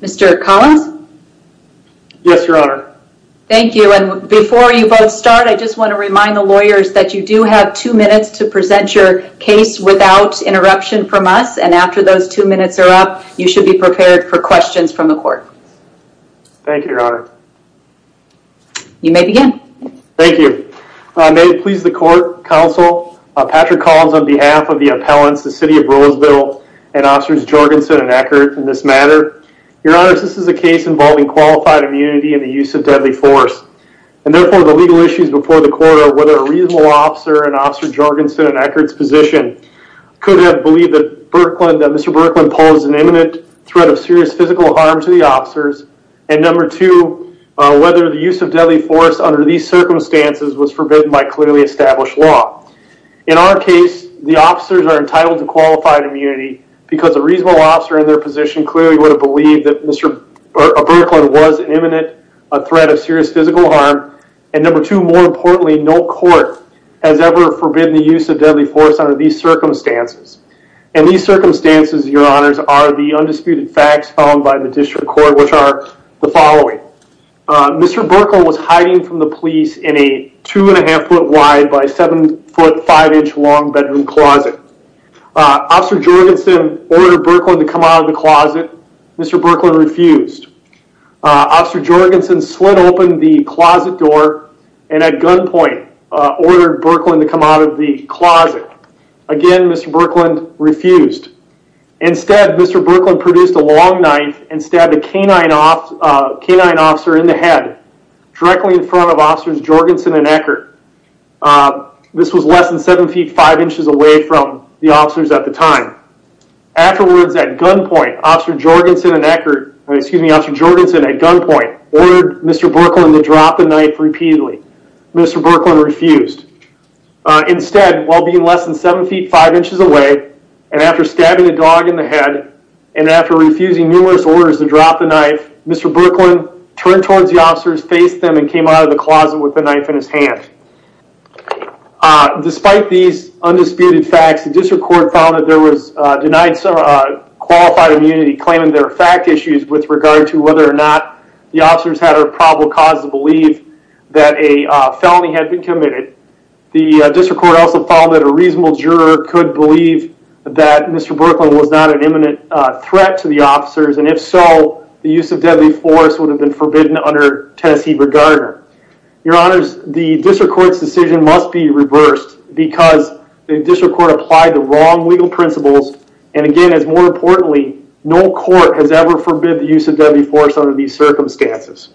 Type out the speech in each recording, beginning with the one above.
Mr. Collins? Yes your honor. Thank you and before you both start I just want to remind the lawyers that you do have two minutes to present your case without interruption from us and after those two minutes are up you should be prepared for questions from the court. Thank you your honor. You may begin. Thank you. May it please the court, counsel, Patrick Collins on behalf of the appellants the city of Roseville and officers Jorgenson and Eckert in this matter your honor this is a case involving qualified immunity and the use of deadly force and therefore the legal issues before the court are whether a reasonable officer and officer Jorgenson and Eckert's position could have believed that Mr. Birkeland posed an imminent threat of serious physical harm to the officers and number two whether the use of deadly force under these circumstances was forbidden by clearly established law. In our case the officers are entitled to qualified immunity because a reasonable officer in their position clearly would have believed that Mr. Birkeland was an imminent threat of serious physical harm and number two more importantly no court has ever forbidden the use of deadly force under these circumstances and these circumstances your honors are the undisputed facts found by the district court which are the following. Mr. Birkeland was hiding from the police in a two and a half foot wide by seven foot five inch long bedroom closet. Officer Jorgenson ordered Birkeland to come out of the closet. Mr. Birkeland refused. Officer Jorgenson slid open the closet door and at gunpoint ordered Birkeland to come out of the closet. Again Mr. Birkeland refused. Instead Mr. Birkeland produced a long knife and stabbed a canine officer in the head directly in front of officers Jorgenson and Eckert. This was less than seven feet five inches away from the officers at time. Afterwards at gunpoint officer Jorgenson and Eckert excuse me officer Jorgenson at gunpoint ordered Mr. Birkeland to drop the knife repeatedly. Mr. Birkeland refused. Instead while being less than seven feet five inches away and after stabbing a dog in the head and after refusing numerous orders to drop the knife Mr. Birkeland turned towards the officers faced them and came out of the closet with the knife in his hand. Despite these undisputed facts the district court found that there was denied some qualified immunity claiming their fact issues with regard to whether or not the officers had a probable cause to believe that a felony had been committed. The district court also found that a reasonable juror could believe that Mr. Birkeland was not an imminent threat to the officers and if so the use of deadly force would have been forbidden under Tennessee regarding. Your honors the district court's decision must be reversed because the legal principles and again as more importantly no court has ever forbid the use of deadly force under these circumstances.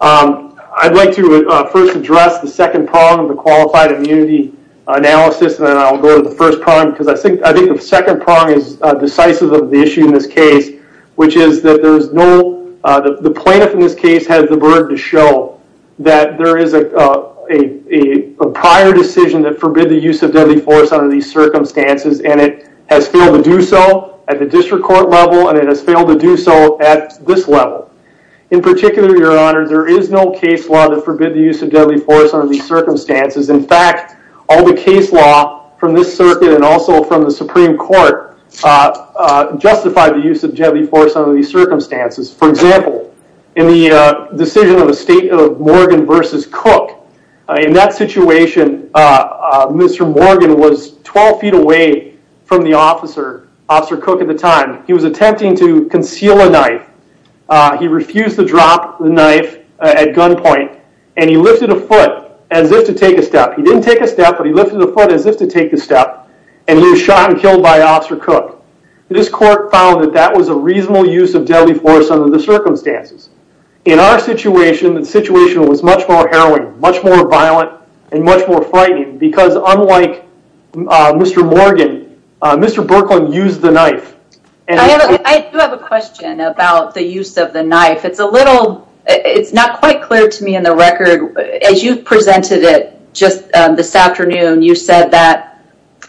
I'd like to first address the second prong of the qualified immunity analysis and then I'll go to the first prong because I think I think the second prong is decisive of the issue in this case which is that there's no the plaintiff in this case has the burden to show that there is a a a prior decision that forbid the use of deadly force under these circumstances and it has failed to do so at the district court level and it has failed to do so at this level. In particular your honor there is no case law that forbid the use of deadly force under these circumstances in fact all the case law from this circuit and also from the supreme court justified the use of deadly force under these circumstances. For example in the decision of Morgan versus Cook in that situation Mr. Morgan was 12 feet away from the officer, Officer Cook at the time. He was attempting to conceal a knife. He refused to drop the knife at gunpoint and he lifted a foot as if to take a step. He didn't take a step but he lifted the foot as if to take a step and he was shot and killed by Officer Cook. This court found that was a reasonable use of deadly force under the circumstances. In our situation the situation was much more harrowing, much more violent, and much more frightening because unlike Mr. Morgan Mr. Birkeland used the knife. I do have a question about the use of the knife. It's a little it's not quite clear to me in the record as you presented it just this afternoon you said that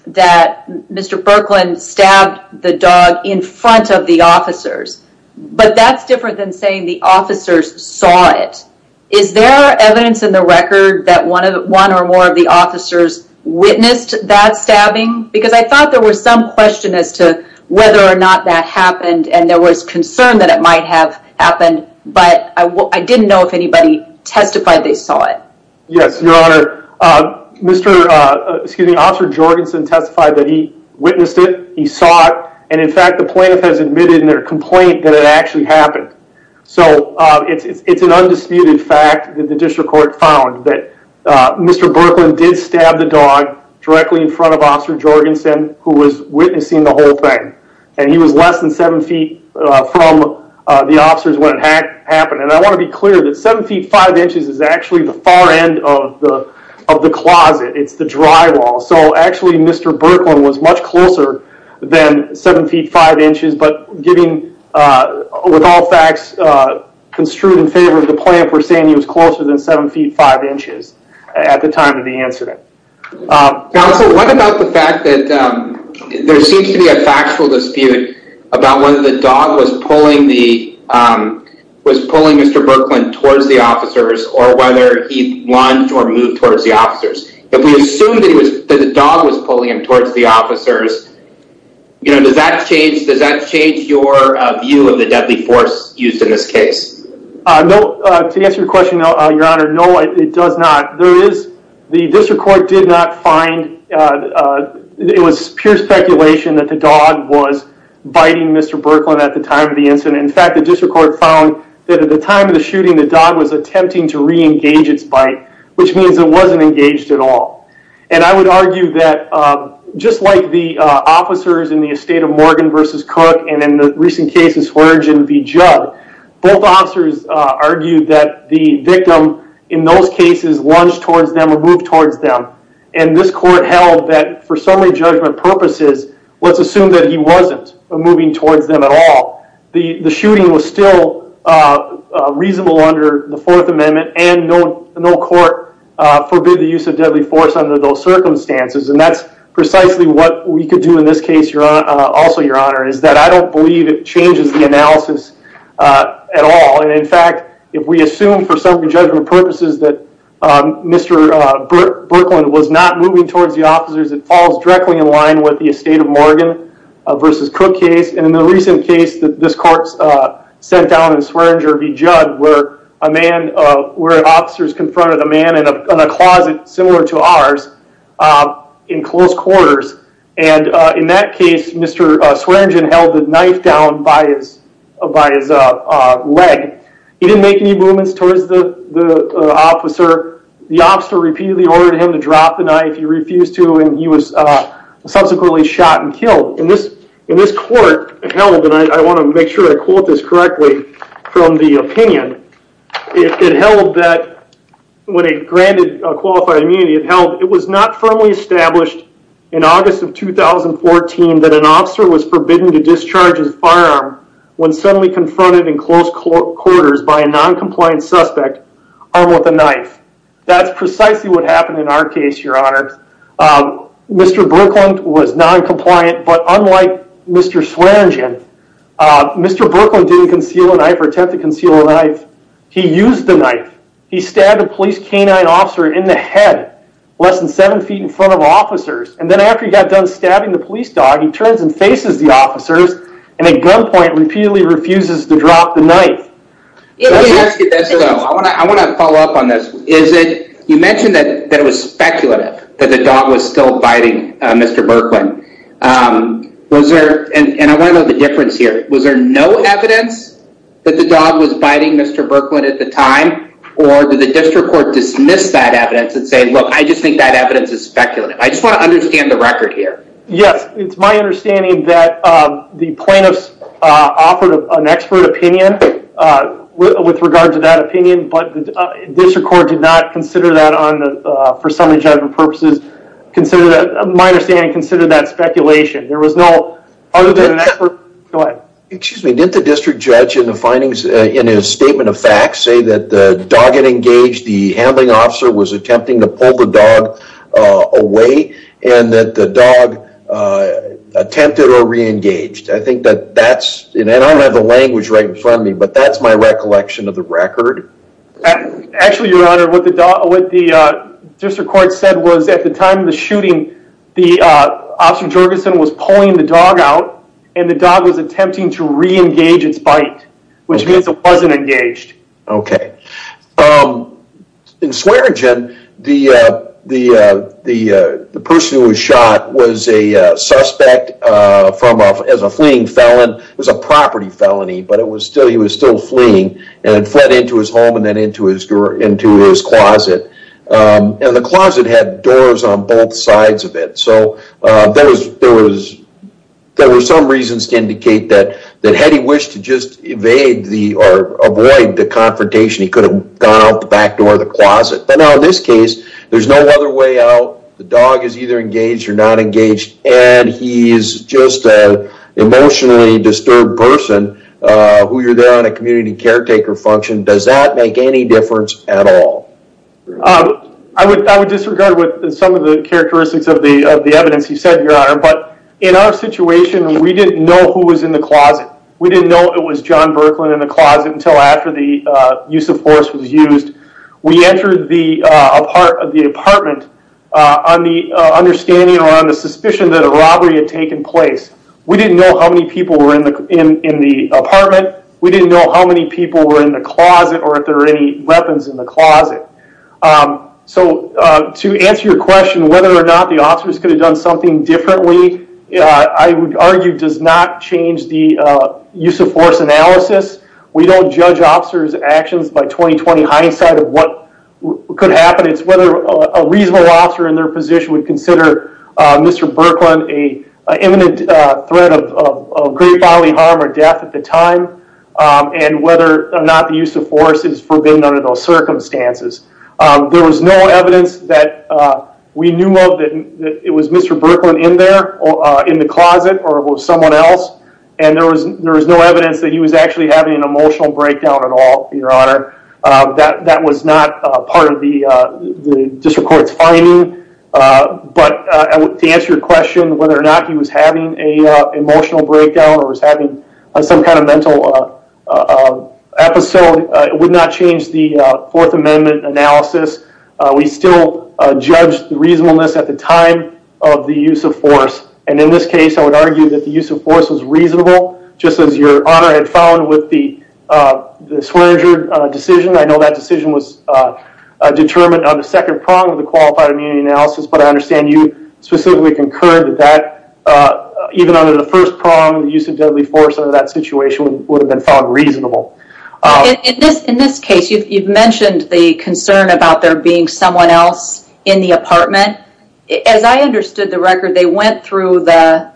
that Mr. Birkeland stabbed the dog in front of the officers but that's different than saying the officers saw it. Is there evidence in the record that one of one or more of the officers witnessed that stabbing because I thought there was some question as to whether or not that happened and there was concern that it might have happened but I didn't know if anybody testified they saw it. Yes your honor Mr. excuse me Officer Jorgensen testified that he witnessed it he saw it and in fact the plaintiff has admitted in their complaint that it actually happened. So it's an undisputed fact that the district court found that Mr. Birkeland did stab the dog directly in front of Officer Jorgensen who was witnessing the whole thing and he was less than seven feet from the officers when it happened and I want to be clear that seven feet five inches is actually the far end of the of the closet it's the drywall so actually Mr. Birkeland was much closer than seven feet five inches but giving with all facts construed in favor of the plaintiff we're saying he was closer than seven feet five inches at the time of the incident. Now so what about the fact that there seems to be a factual dispute about whether the officers or whether he lunged or moved towards the officers if we assumed that he was that the dog was pulling him towards the officers you know does that change does that change your view of the deadly force used in this case? No to answer your question your honor no it does not there is the district court did not find it was pure speculation that the dog was biting Mr. Birkeland at the time of the incident in fact the district court found that at the time of the dog was attempting to re-engage its bite which means it wasn't engaged at all and I would argue that just like the officers in the estate of Morgan versus Cook and in the recent cases Hurdge and V. Judd both officers argued that the victim in those cases lunged towards them or moved towards them and this court held that for summary judgment purposes let's assume that he wasn't moving towards them at all the the shooting was still reasonable under the fourth amendment and no court forbid the use of deadly force under those circumstances and that's precisely what we could do in this case your honor also your honor is that I don't believe it changes the analysis at all and in fact if we assume for summary judgment purposes that Mr. Birkeland was not moving towards the officers it falls directly in line with the estate of Morgan versus Cook case and in the recent case that this court sent down in Swearingen v. Judd where a man where officers confronted a man in a closet similar to ours in close quarters and in that case Mr. Swearingen held the knife down by his by his leg he didn't make any movements towards the the officer the he was subsequently shot and killed in this in this court held and I want to make sure I quote this correctly from the opinion it held that when it granted qualified immunity it held it was not firmly established in August of 2014 that an officer was forbidden to discharge his firearm when suddenly confronted in close quarters by a non-compliant suspect armed with a knife that's in our case your honor Mr. Birkeland was non-compliant but unlike Mr. Swearingen Mr. Birkeland didn't conceal a knife or attempt to conceal a knife he used the knife he stabbed a police canine officer in the head less than seven feet in front of officers and then after he got done stabbing the police dog he turns and faces the officers and at gunpoint repeatedly refuses to drop the knife I want to follow up on this is it you mentioned that it was speculative that the dog was still biting Mr. Birkeland was there and I want to know the difference here was there no evidence that the dog was biting Mr. Birkeland at the time or did the district court dismiss that evidence and say look I just think that evidence is speculative I just want to an expert opinion with regard to that opinion but the district court did not consider that on for some enjoyment purposes consider that a minor standing consider that speculation there was no other than an expert go ahead excuse me did the district judge in the findings in his statement of facts say that the dog had engaged the handling officer was attempting to pull the dog away and that the dog attempted or re-engaged I think that that's and I don't have the language right in front of me but that's my recollection of the record actually your honor what the dog what the district court said was at the time of the shooting the officer Jorgensen was pulling the dog out and the dog was attempting to re-engage its bite which means it wasn't engaged okay um in Swearengen the uh the uh the uh the person who was shot was a uh suspect uh from off as a fleeing felon it was a property felony but it was still he was still fleeing and fled into his home and then into his door into his closet and the closet had doors on both sides of it so uh there was there was there were some reasons to indicate that that had he wished to just evade the or avoid the confrontation he could have gone out the back door of the closet but now in this case there's no other way out the dog is either engaged or not engaged and he is just an emotionally disturbed person uh who you're there on a community caretaker function does that make any difference at all um I would I would disregard with some of the characteristics of the of the evidence he said your honor but in our situation we didn't know who was in the closet we didn't know it was John Birkeland in the closet until after the uh use of force was used we entered the uh apart of the apartment uh on the understanding or on the suspicion that a robbery had taken place we didn't know how many people were in the in in the apartment we didn't know how many people were in the closet or if there were any weapons in the closet um so uh to answer your question whether or not the officers could have done something differently uh I would argue does not change the uh use of force analysis we don't judge officers actions by 20-20 hindsight of what could happen it's whether a reasonable officer in their position would consider uh Mr. Birkeland a imminent uh threat of of great bodily harm or death at the time um and whether or not the use of force is forbidden under those circumstances um there was no evidence that uh we knew that it was Mr. Birkeland in there or uh in the closet or it was someone else and there was there was no evidence that he was actually having an emotional breakdown at all your honor uh that that was not a part of the uh the district court's finding uh but uh to answer your question whether or not he was having a uh emotional breakdown or was having some kind of mental uh episode it would not change the uh fourth amendment analysis we still judged the reasonableness at the time of the use of force and in this case I would argue that the use of force was reasonable just as your honor had found with the uh the Swearinger decision I know that decision was uh determined on the second prong of the qualified immunity analysis but I understand you specifically concurred that that uh even under the first prong the use of deadly force under that situation would have been found reasonable in this in this case you've mentioned the concern about there being someone else in the apartment as I understood the record they went through the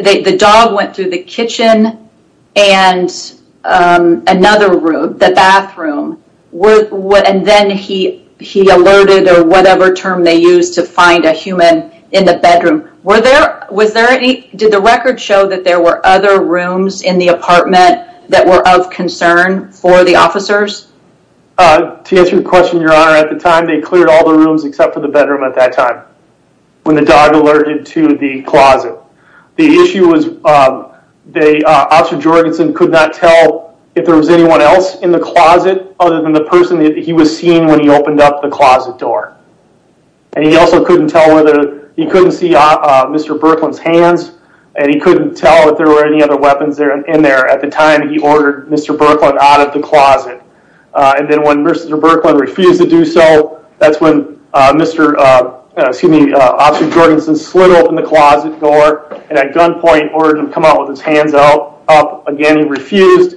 the dog went through the kitchen and um another room the bathroom and then he he alerted or whatever term they used to find a human in the bedroom were there was there any did the record show that there were other rooms in the apartment that were of concern for the officers uh to answer your question your honor at the time they cleared all the rooms except for the bedroom at that time when the dog alerted to the closet the issue was um they uh officer Jorgensen could not tell if there was anyone else in the closet other than the person that he was seeing when he opened up the closet door and he also couldn't tell whether he couldn't see uh uh Mr. Birkeland's hands and he couldn't tell if there were any other weapons in there at the time he ordered Mr. Birkeland out of the closet uh and then when Mr. Birkeland refused to do so that's when uh Mr. uh excuse me Officer Jorgensen slid open the closet door and at gunpoint ordered him to come out with his hands out up again he refused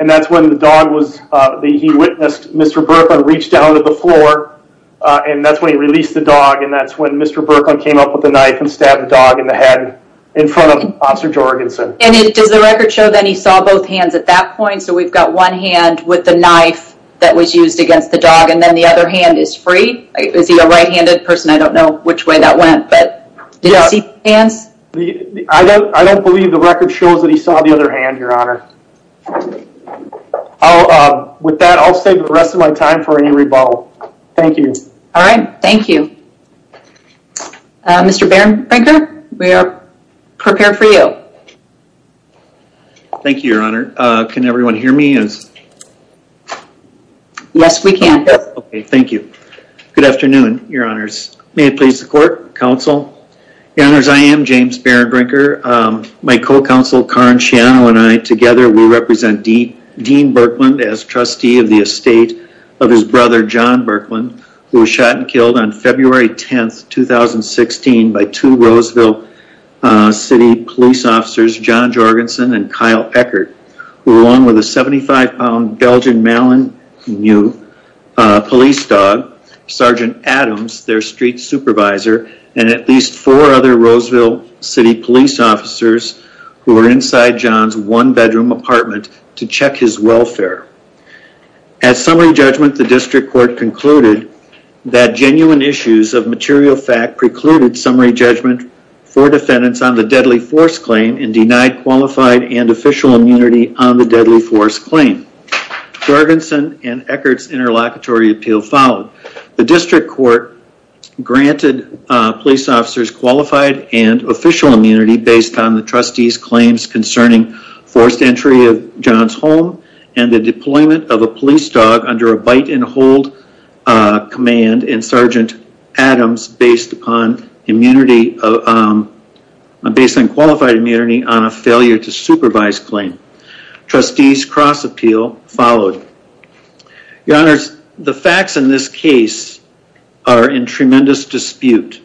and that's when the dog was uh the he witnessed Mr. Birkeland reach down to the floor uh and that's when he released the dog and that's when Mr. Birkeland came up with the knife and stabbed the dog in the head in front of Officer Jorgensen and it does the record show that he saw both hands at that point so we've got one hand with the knife that was used against the dog and then the other hand is free is he a right-handed person i don't know which way that went but did you see hands i don't i don't believe the record shows that he saw the other hand your honor i'll uh with that i'll save the prepare for you thank you your honor uh can everyone hear me as yes we can okay thank you good afternoon your honors may it please the court council your honors i am james berenbrinker um my co-counsel karen chiano and i together will represent dean dean birkeland as trustee of the estate of his brother john birkeland who was shot killed on february 10th 2016 by two roseville city police officers john jorgensen and kyle eckard who along with a 75 pound belgian mallon new uh police dog sergeant adams their street supervisor and at least four other roseville city police officers who were inside john's one bedroom apartment to check his welfare at summary judgment the district court concluded that genuine issues of material fact precluded summary judgment for defendants on the deadly force claim and denied qualified and official immunity on the deadly force claim jorgensen and eckard's interlocutory appeal followed the district court granted uh police officers qualified and official immunity based on the trustees claims concerning forced entry of john's home and the deployment of a police dog under a bite and hold uh command and sergeant adams based upon immunity of um based on qualified immunity on a failure to supervise claim trustees cross appeal followed your honors the facts in this case are in tremendous dispute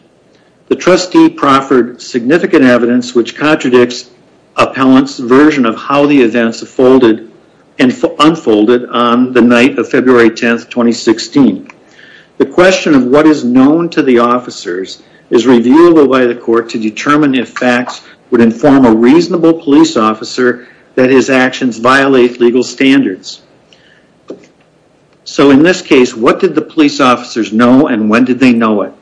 the trustee proffered significant evidence which contradicts appellant's version of how the events folded and unfolded on the night of february 10th 2016 the question of what is known to the officers is reviewable by the court to determine if facts would inform a reasonable police officer that his actions violate legal standards so in this case what did the police officers know and when did they know it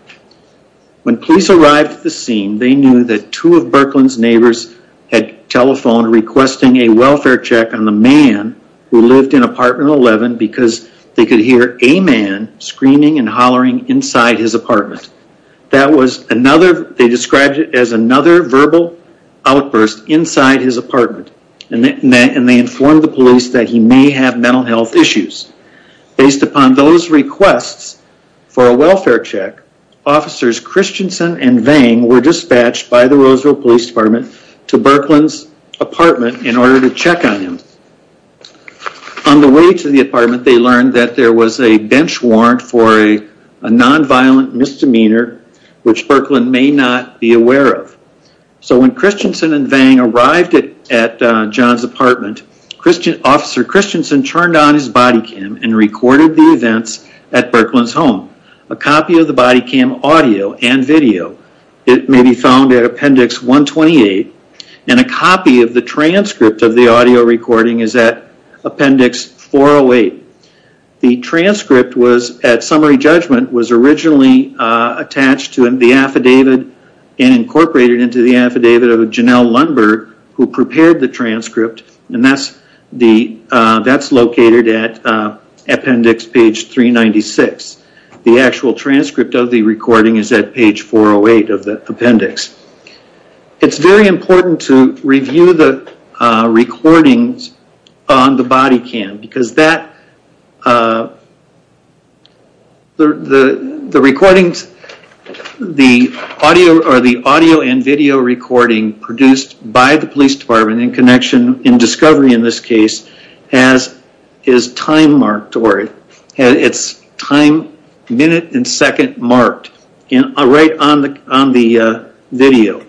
when police arrived at the scene they knew that two of berkeland's neighbors had telephoned requesting a welfare check on the man who lived in apartment 11 because they could hear a man screaming and hollering inside his apartment that was another they described it as another verbal outburst inside his apartment and they informed the police that he may have mental health issues based upon those requests for a welfare check officers christiansen and vang were dispatched by the roseville police department to berkeland's apartment in order to check on him on the way to the apartment they learned that there was a bench warrant for a so when christiansen and vang arrived at john's apartment christian officer christiansen turned on his body cam and recorded the events at berkeland's home a copy of the body cam audio and video it may be found at appendix 128 and a copy of the transcript of the audio recording is at appendix 408 the transcript was at summary judgment was originally attached to the affidavit and incorporated into the affidavit of janelle lundberg who prepared the transcript and that's located at appendix page 396 the actual transcript of the recording is at page 408 of the appendix it's very important to review the recordings on the body cam because that uh the the recordings the audio or the audio and video recording produced by the police department in connection in discovery in this case has is time marked or it's time minute and second marked in right on the on the video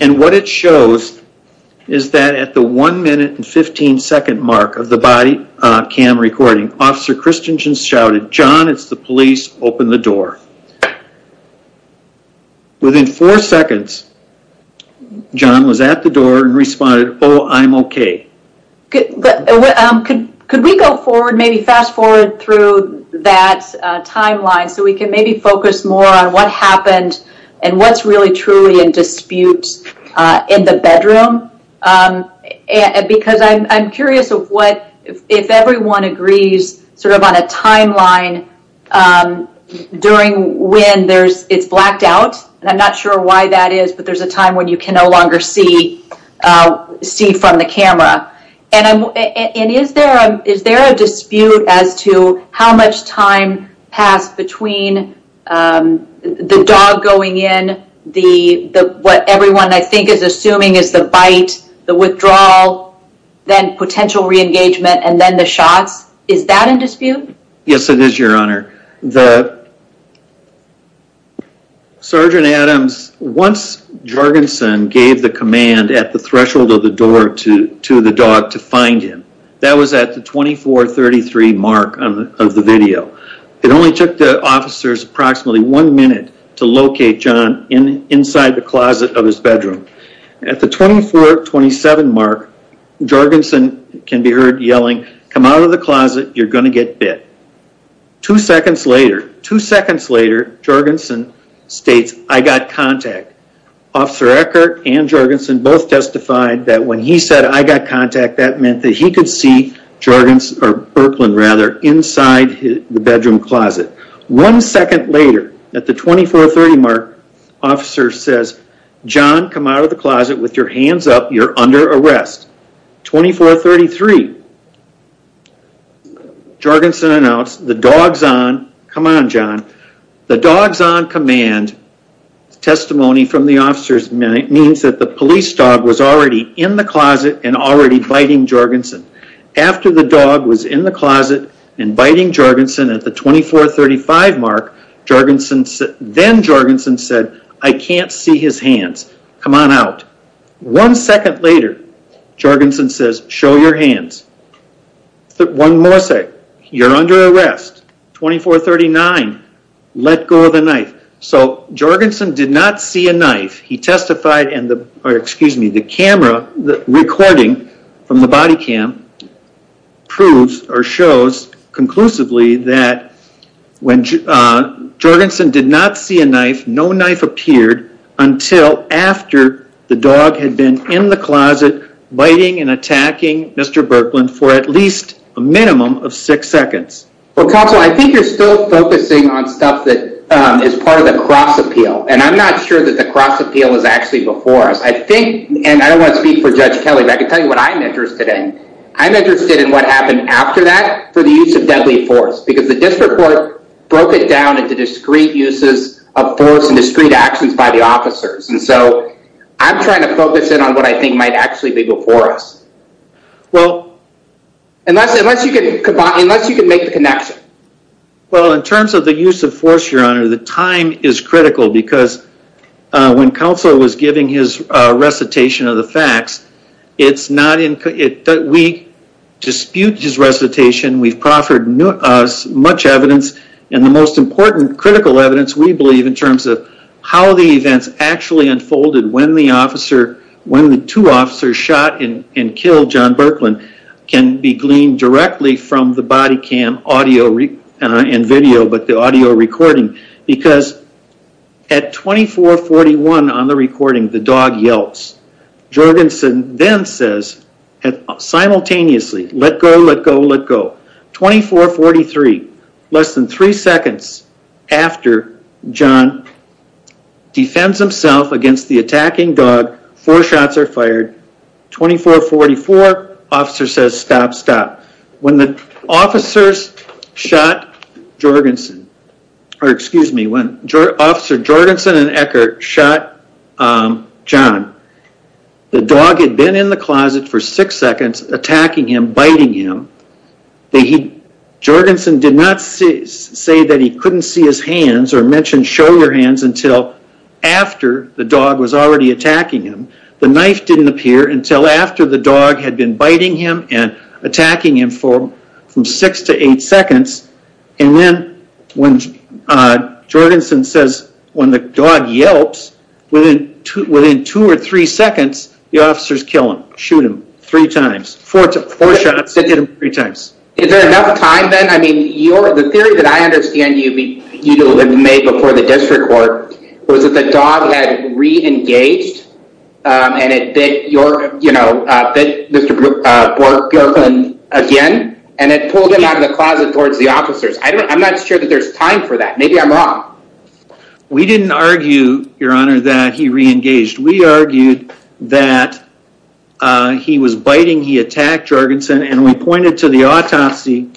and what it shows is that at the one minute and 15 second mark of the cam recording officer christiansen shouted john it's the police open the door within four seconds john was at the door and responded oh i'm okay could we go forward maybe fast forward through that uh timeline so we can maybe focus more on what happened and what's really truly in dispute uh in the bedroom um and because i'm i'm curious of what if everyone agrees sort of on a timeline um during when there's it's blacked out and i'm not sure why that is but there's a time when you can no longer see uh see from the camera and i'm and is there a is there a dispute as to how much time passed between um the dog going in the the what everyone i think is assuming is the bite the withdrawal then potential re-engagement and then the shots is that in dispute yes it is your honor the sergeant adams once jorgensen gave the command at the threshold of the door to to the dog to find him that was at the 24 33 mark of the video it only took the officers approximately one minute to locate john in inside the closet of his bedroom at the 24 27 mark jorgensen can be heard yelling come out of the closet you're going to get bit two seconds later two seconds later jorgensen states i got contact officer eckert and jorgensen both testified that when he said i got contact that meant that he could see jargon or birkeland rather inside the closet one second later at the 24 30 mark officer says john come out of the closet with your hands up you're under arrest 24 33 jorgensen announced the dog's on come on john the dog's on command testimony from the officers means that the police dog was already in the closet and already biting jorgensen after the 24 35 mark jorgensen said then jorgensen said i can't see his hands come on out one second later jorgensen says show your hands one more sec you're under arrest 24 39 let go of the knife so jorgensen did not see a knife he testified and the or excuse me the camera the recording from the body cam proves or shows conclusively that when jorgensen did not see a knife no knife appeared until after the dog had been in the closet biting and attacking mr birkeland for at least a minimum of six seconds well counsel i think you're still focusing on stuff that is part of the cross appeal and i'm not sure that the cross appeal is actually before us i think and i don't want to speak for judge kelly but i can tell you what i'm interested in i'm interested in what happened after that for the use of deadly force because the district court broke it down into discrete uses of force and discrete actions by the officers and so i'm trying to focus in on what i think might actually be before us well unless unless you can combine unless you can make the connection well in terms of the use of force your honor the time is critical because when counsel was giving his recitation of the facts it's not in it that we dispute his recitation we've proffered as much evidence and the most important critical evidence we believe in terms of how the events actually unfolded when the officer when the two officers shot and and killed john birkeland can be gleaned directly from the body cam audio and video but the at 24 41 on the recording the dog yelps jorgensen then says simultaneously let go let go let go 24 43 less than three seconds after john defends himself against the attacking dog four shots are officer jorgensen and ecker shot john the dog had been in the closet for six seconds attacking him biting him they he jorgensen did not see say that he couldn't see his hands or mention show your hands until after the dog was already attacking him the knife didn't appear until after the dog had been biting him and attacking him for from six to eight seconds and then when uh jorgensen says when the dog yelps within two within two or three seconds the officers kill him shoot him three times four to four shots that hit him three times is there enough time then i mean you're the theory that i understand you mean you made before the district court was that the dog had re-engaged um and it bit your you know uh mr uh again and it pulled him out of the closet towards the officers i don't i'm not sure that there's time for that maybe i'm wrong we didn't argue your honor that he re-engaged we argued that uh he was biting he attacked jorgensen and we pointed to the autopsy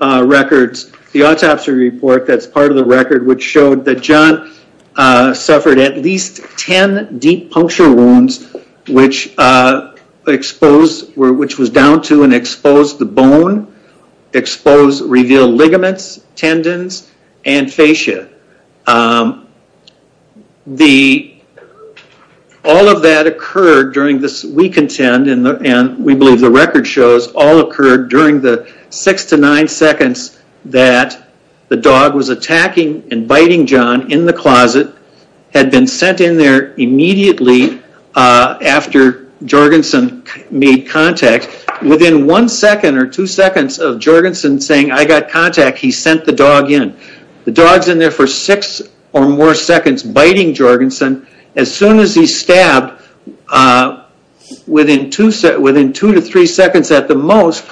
uh records the autopsy report that's part of the record which showed that john uh suffered at least 10 deep puncture wounds which uh exposed were which was down to and exposed the bone exposed revealed ligaments tendons and fascia um the all of that occurred during this we contend and we believe the record shows all occurred during the six to nine seconds that the dog was attacking and biting john in the closet had been sent in there immediately uh after jorgensen made contact within one second or two seconds of jorgensen saying i got contact he sent the dog in the dog's in there for six or more seconds biting jorgensen as soon as he stabbed uh within two within two to three seconds at the most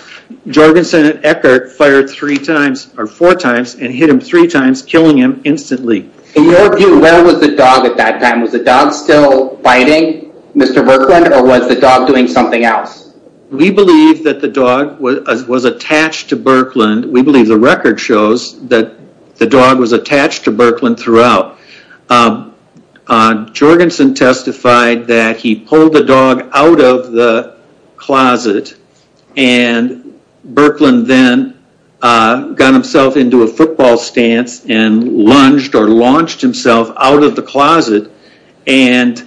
jorgensen and eckhart fired three times or four times and hit him three times killing him instantly in your view where was the dog at that time was the dog still biting mr berkland or was the dog doing something else we believe that the dog was was attached to berkland we believe the record shows that the dog was attached to berkland throughout uh jorgensen testified that he pulled the dog out of the closet and berkland then uh got himself into a football stance and lunged or launched himself out of the closet and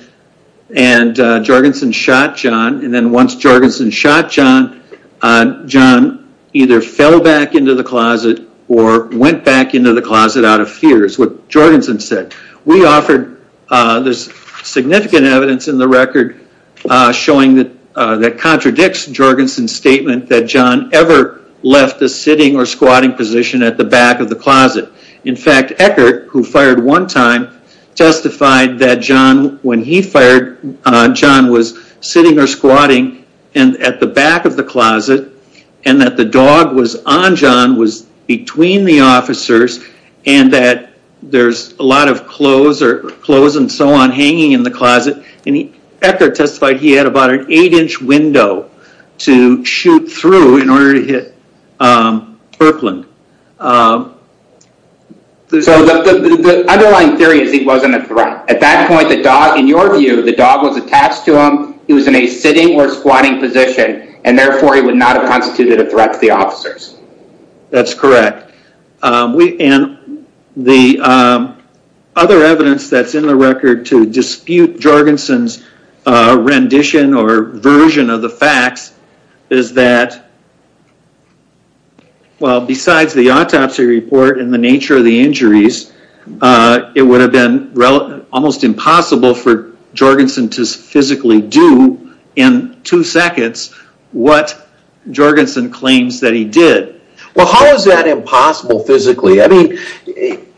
and jorgensen shot john and then once jorgensen shot john uh john either fell back into the closet or went back into the closet out of fears what jorgensen said we offered uh there's significant evidence in the record uh showing that uh that contradicts jorgensen's statement that john ever left the sitting or squatting position at the back of the closet in fact eckhart who fired one time testified that john when he fired uh john was sitting or and that the dog was on john was between the officers and that there's a lot of clothes or clothes and so on hanging in the closet and eckhart testified he had about an eight inch window to shoot through in order to hit um berkland um so the underlying theory is he wasn't a threat at that point the dog in your view the dog was attached to him he was in a sitting or he would not have constituted a threat to the officers that's correct um we and the um other evidence that's in the record to dispute jorgensen's uh rendition or version of the facts is that well besides the autopsy report and the nature of the injuries uh it would have been almost impossible for jorgensen to physically do in two seconds what jorgensen claims that he did well how is that impossible physically i mean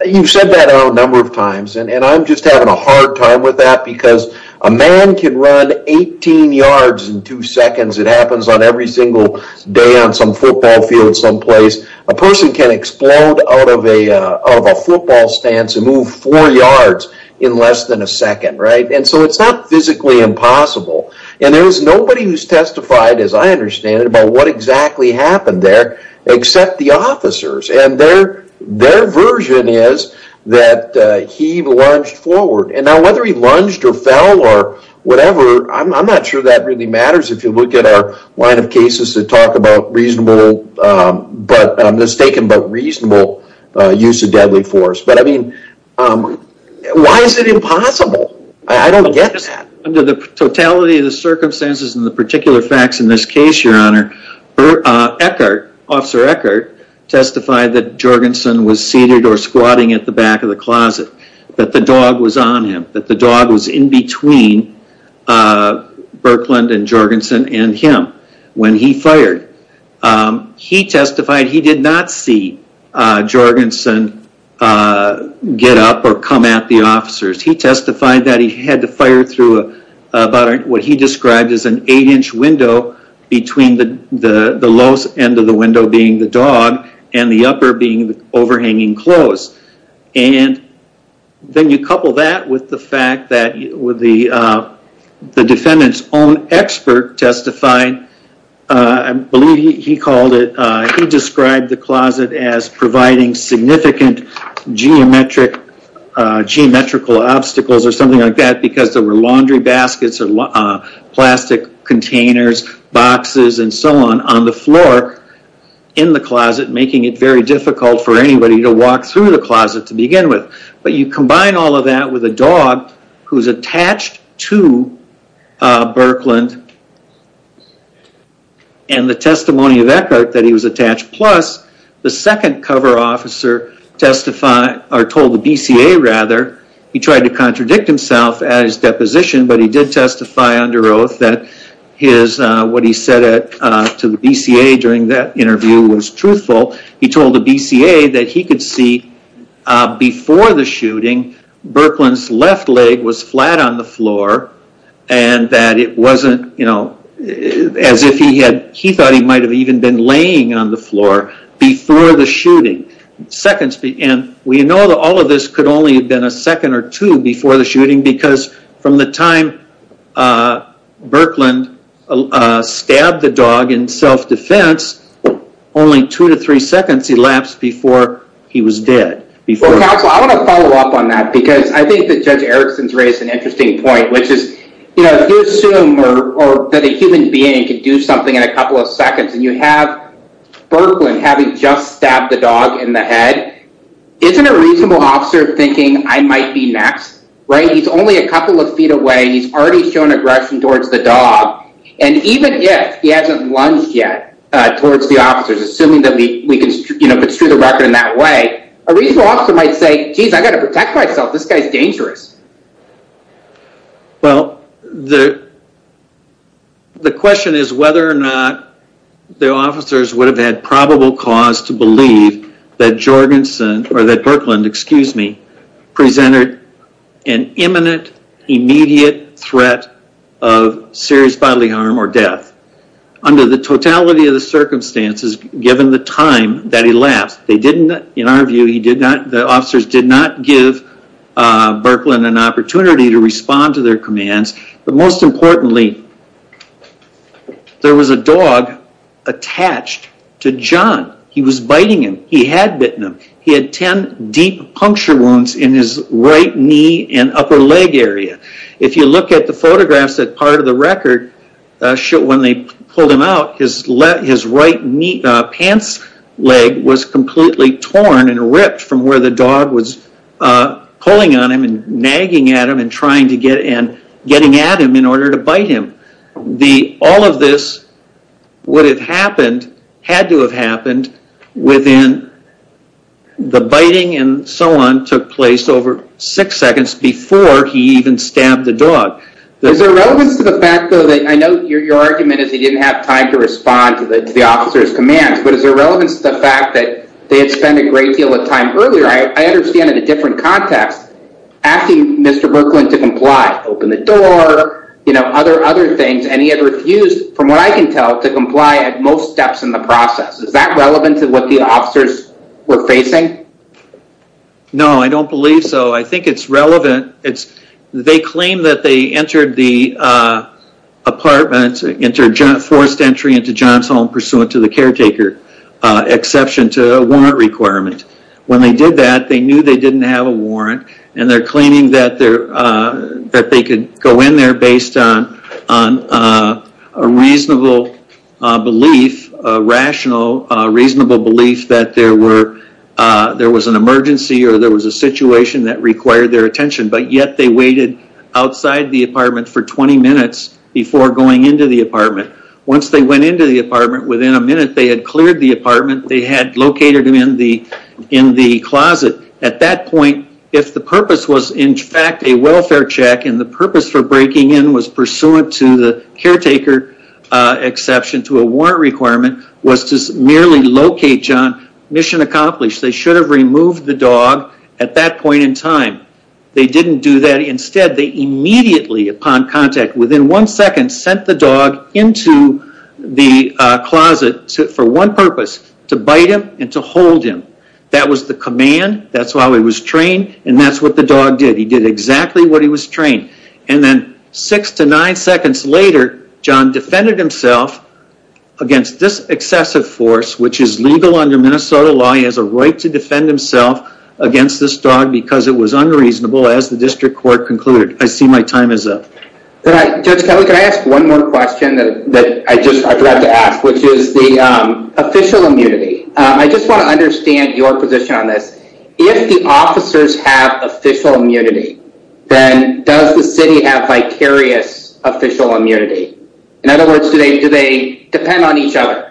you've said that a number of times and i'm just having a hard time with that because a man can run 18 yards in two seconds it happens on every single day on some football field someplace a person can explode out of a uh of a football stance and move four yards in less than a second right and so it's not physically impossible and there's nobody who's testified as i understand it about what exactly happened there except the officers and their their version is that he lunged forward and now whether he lunged or fell or whatever i'm not sure that really matters if you look at our line of cases that reasonable um but i'm mistaken but reasonable uh use of deadly force but i mean um why is it impossible i don't get that under the totality of the circumstances and the particular facts in this case your honor uh eckhart officer eckhart testified that jorgensen was seated or squatting at the back of the closet that the dog was on him that the dog was in between uh berkeland and jorgensen and him when he fired um he testified he did not see uh jorgensen uh get up or come at the officers he testified that he had to fire through a about what he described as an eight inch window between the the the lowest end of the window being the dog and the upper being the overhanging clothes and then you couple that with the fact that with the uh the defendant's own expert testified uh i believe he called it uh he described the closet as providing significant geometric uh geometrical obstacles or something like that because there were laundry baskets or plastic containers boxes and so on on the floor in the closet making it very difficult for anybody to walk through the closet to begin with but you attached to uh berkeland and the testimony of eckhart that he was attached plus the second cover officer testified or told the bca rather he tried to contradict himself at his deposition but he did testify under oath that his uh what he said uh to the bca during that interview was truthful he told the bca that he could see uh before the shooting berkeland's left leg was flat on the floor and that it wasn't you know as if he had he thought he might have even been laying on the floor before the shooting seconds and we know that all of this could only have been a second or two before because from the time uh berkeland uh stabbed the dog in self-defense only two to three seconds elapsed before he was dead before council i want to follow up on that because i think that judge erickson's raised an interesting point which is you know if you assume or that a human being could do something in a couple of seconds and you have berkeland having just stabbed the dog in the he's only a couple of feet away and he's already shown aggression towards the dog and even if he hasn't lunged yet uh towards the officers assuming that we we can you know if it's true the record in that way a reasonable officer might say jeez i got to protect myself this guy's dangerous well the the question is whether or not the officers would have had probable cause to believe that jorgensen or that berkeland excuse me presented an imminent immediate threat of serious bodily harm or death under the totality of the circumstances given the time that he left they didn't in our view he did not the officers did not give berkeland an opportunity to respond to their commands but most importantly there was a dog attached to john he was biting him he had bitten him he had 10 deep puncture wounds in his right knee and upper leg area if you look at the photographs that part of the record when they pulled him out his left his right knee pants leg was completely torn and ripped from where the dog was uh pulling on him and nagging at him and trying to get and getting at him in order to the all of this would have happened had to have happened within the biting and so on took place over six seconds before he even stabbed the dog there's a relevance to the fact though that i know your argument is he didn't have time to respond to the officer's commands but is there relevance to the fact that they had spent a great deal of time earlier i understand in a different context asking mr berkeland to comply open the door you know other other things and he had refused from what i can tell to comply at most steps in the process is that relevant to what the officers were facing no i don't believe so i think it's relevant it's they claim that they entered the uh apartment entered forced entry into john's home pursuant to the caretaker exception to a warrant requirement when they did that they knew they didn't have a warrant and they're claiming that they're uh that they could go in there based on on a reasonable belief a rational uh reasonable belief that there were uh there was an emergency or there was a situation that required their attention but yet they waited outside the apartment for 20 minutes before going into the apartment once they went into the apartment within a minute they had cleared the apartment they had located him in the in the closet at that point if the purpose was in fact a welfare check and the purpose for breaking in was pursuant to the caretaker uh exception to a warrant requirement was to merely locate john mission accomplished they should have removed the dog at that point in time they didn't do that instead they immediately upon contact within one second sent the dog into the uh closet for one purpose to bite him and to hold him that was the command that's how he was trained and that's what the dog did he did exactly what he was trained and then six to nine seconds later john defended himself against this excessive force which is right to defend himself against this dog because it was unreasonable as the district court concluded i see my time is up but i judge kelly could i ask one more question that that i just i forgot to ask which is the um official immunity i just want to understand your position on this if the officers have official immunity then does the city have vicarious official immunity in other words do they depend on each other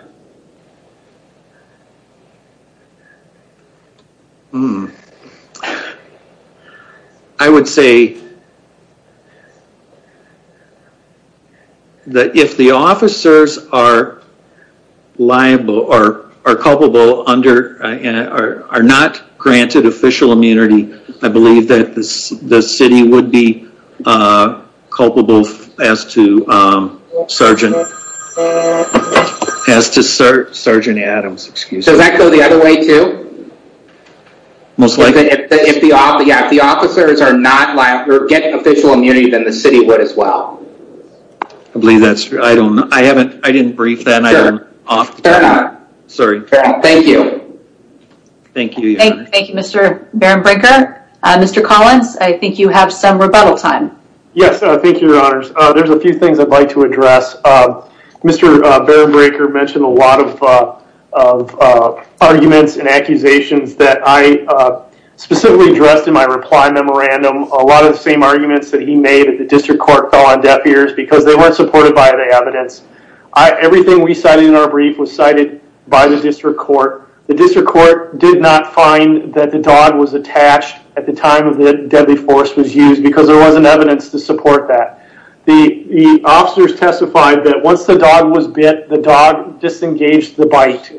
i would say that if the officers are liable or are culpable under and are not granted official immunity i believe that this the city would be uh culpable as to um sergeant as to sergeant adams excuse me does that go the other way too most likely if the yeah if the officers are not like or get official immunity then the city would as well i believe that's i don't i haven't i didn't brief that i don't off sorry thank you thank you thank you mr baron breaker uh mr collins i think you have some rebuttal time yes thank you your honors uh there's a few things i'd like to address uh mr uh baron breaker mentioned a lot of uh of uh arguments and accusations that i uh specifically addressed in my reply memorandum a lot of the same arguments that he made at the district court fell on deaf ears because they weren't supported by the evidence i everything we cited in our brief was cited by the district court the district court did not find that the dog was attached at the time of the deadly force was used because there wasn't evidence to support that the the officers testified that once the dog was bit the dog disengaged the bite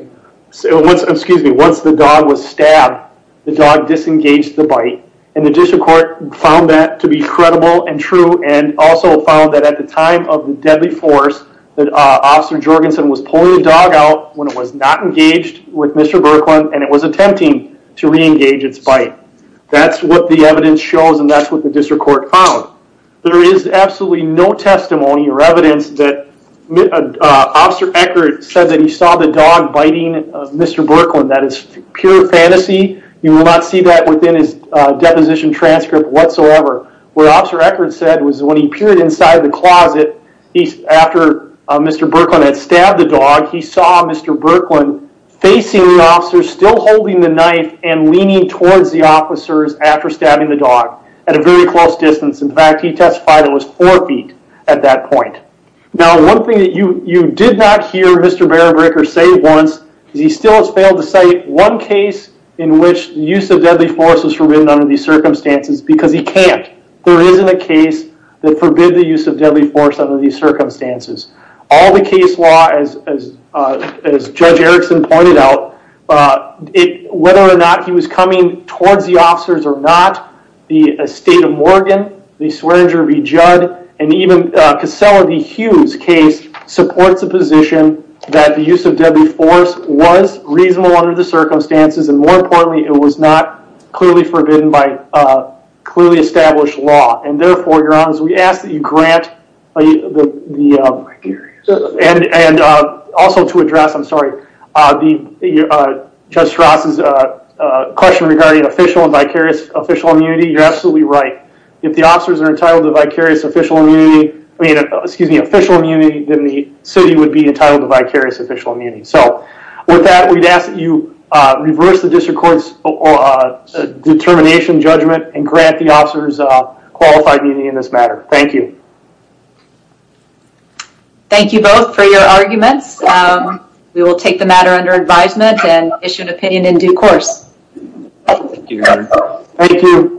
so once excuse me once the dog was stabbed the dog disengaged the bite and the district court found that to be credible and true and also found that at the time of the deadly force that uh officer jorgenson was pulling the dog out when it was not engaged with mr birkland and it was attempting to re-engage its bite that's what the evidence shows and that's what the district court found there is absolutely no testimony or evidence that uh officer eckardt said that he saw the dog biting of mr birkland that is pure fantasy you will not see that within his uh deposition transcript whatsoever where officer eckardt said was when he peered inside the closet he's after mr birkland had stabbed the dog he saw mr birkland facing the officer still holding the knife and leaning towards the officers after stabbing the dog at a very close distance in fact he testified it was four feet at that point now one thing that you you did not hear mr berenberger say once because he still has failed to cite one case in which the use of deadly force was forbidden under these circumstances because he can't there isn't a case that forbid the use of deadly force under these circumstances all the case law as as uh as judge erickson pointed out uh it whether or not he was coming towards the officers or not the estate of morgan the swearinger v judd and even cassella the hughes case supports the position that the use of deadly force was reasonable under the circumstances and more importantly it was not clearly forbidden by uh clearly established law and therefore your honors we ask that you grant the the um and and uh also to address i'm sorry uh the uh judge ross's uh uh question regarding official and vicarious official immunity you're absolutely right if the officers are entitled to vicarious official immunity i mean excuse me official immunity then the city would be entitled to vicarious official immunity so with that we'd ask that you uh reverse the district court's uh determination judgment and grant the officers a qualified meeting in this matter thank you thank you both for your arguments we will take the matter under advisement and issue an opinion in due course thank you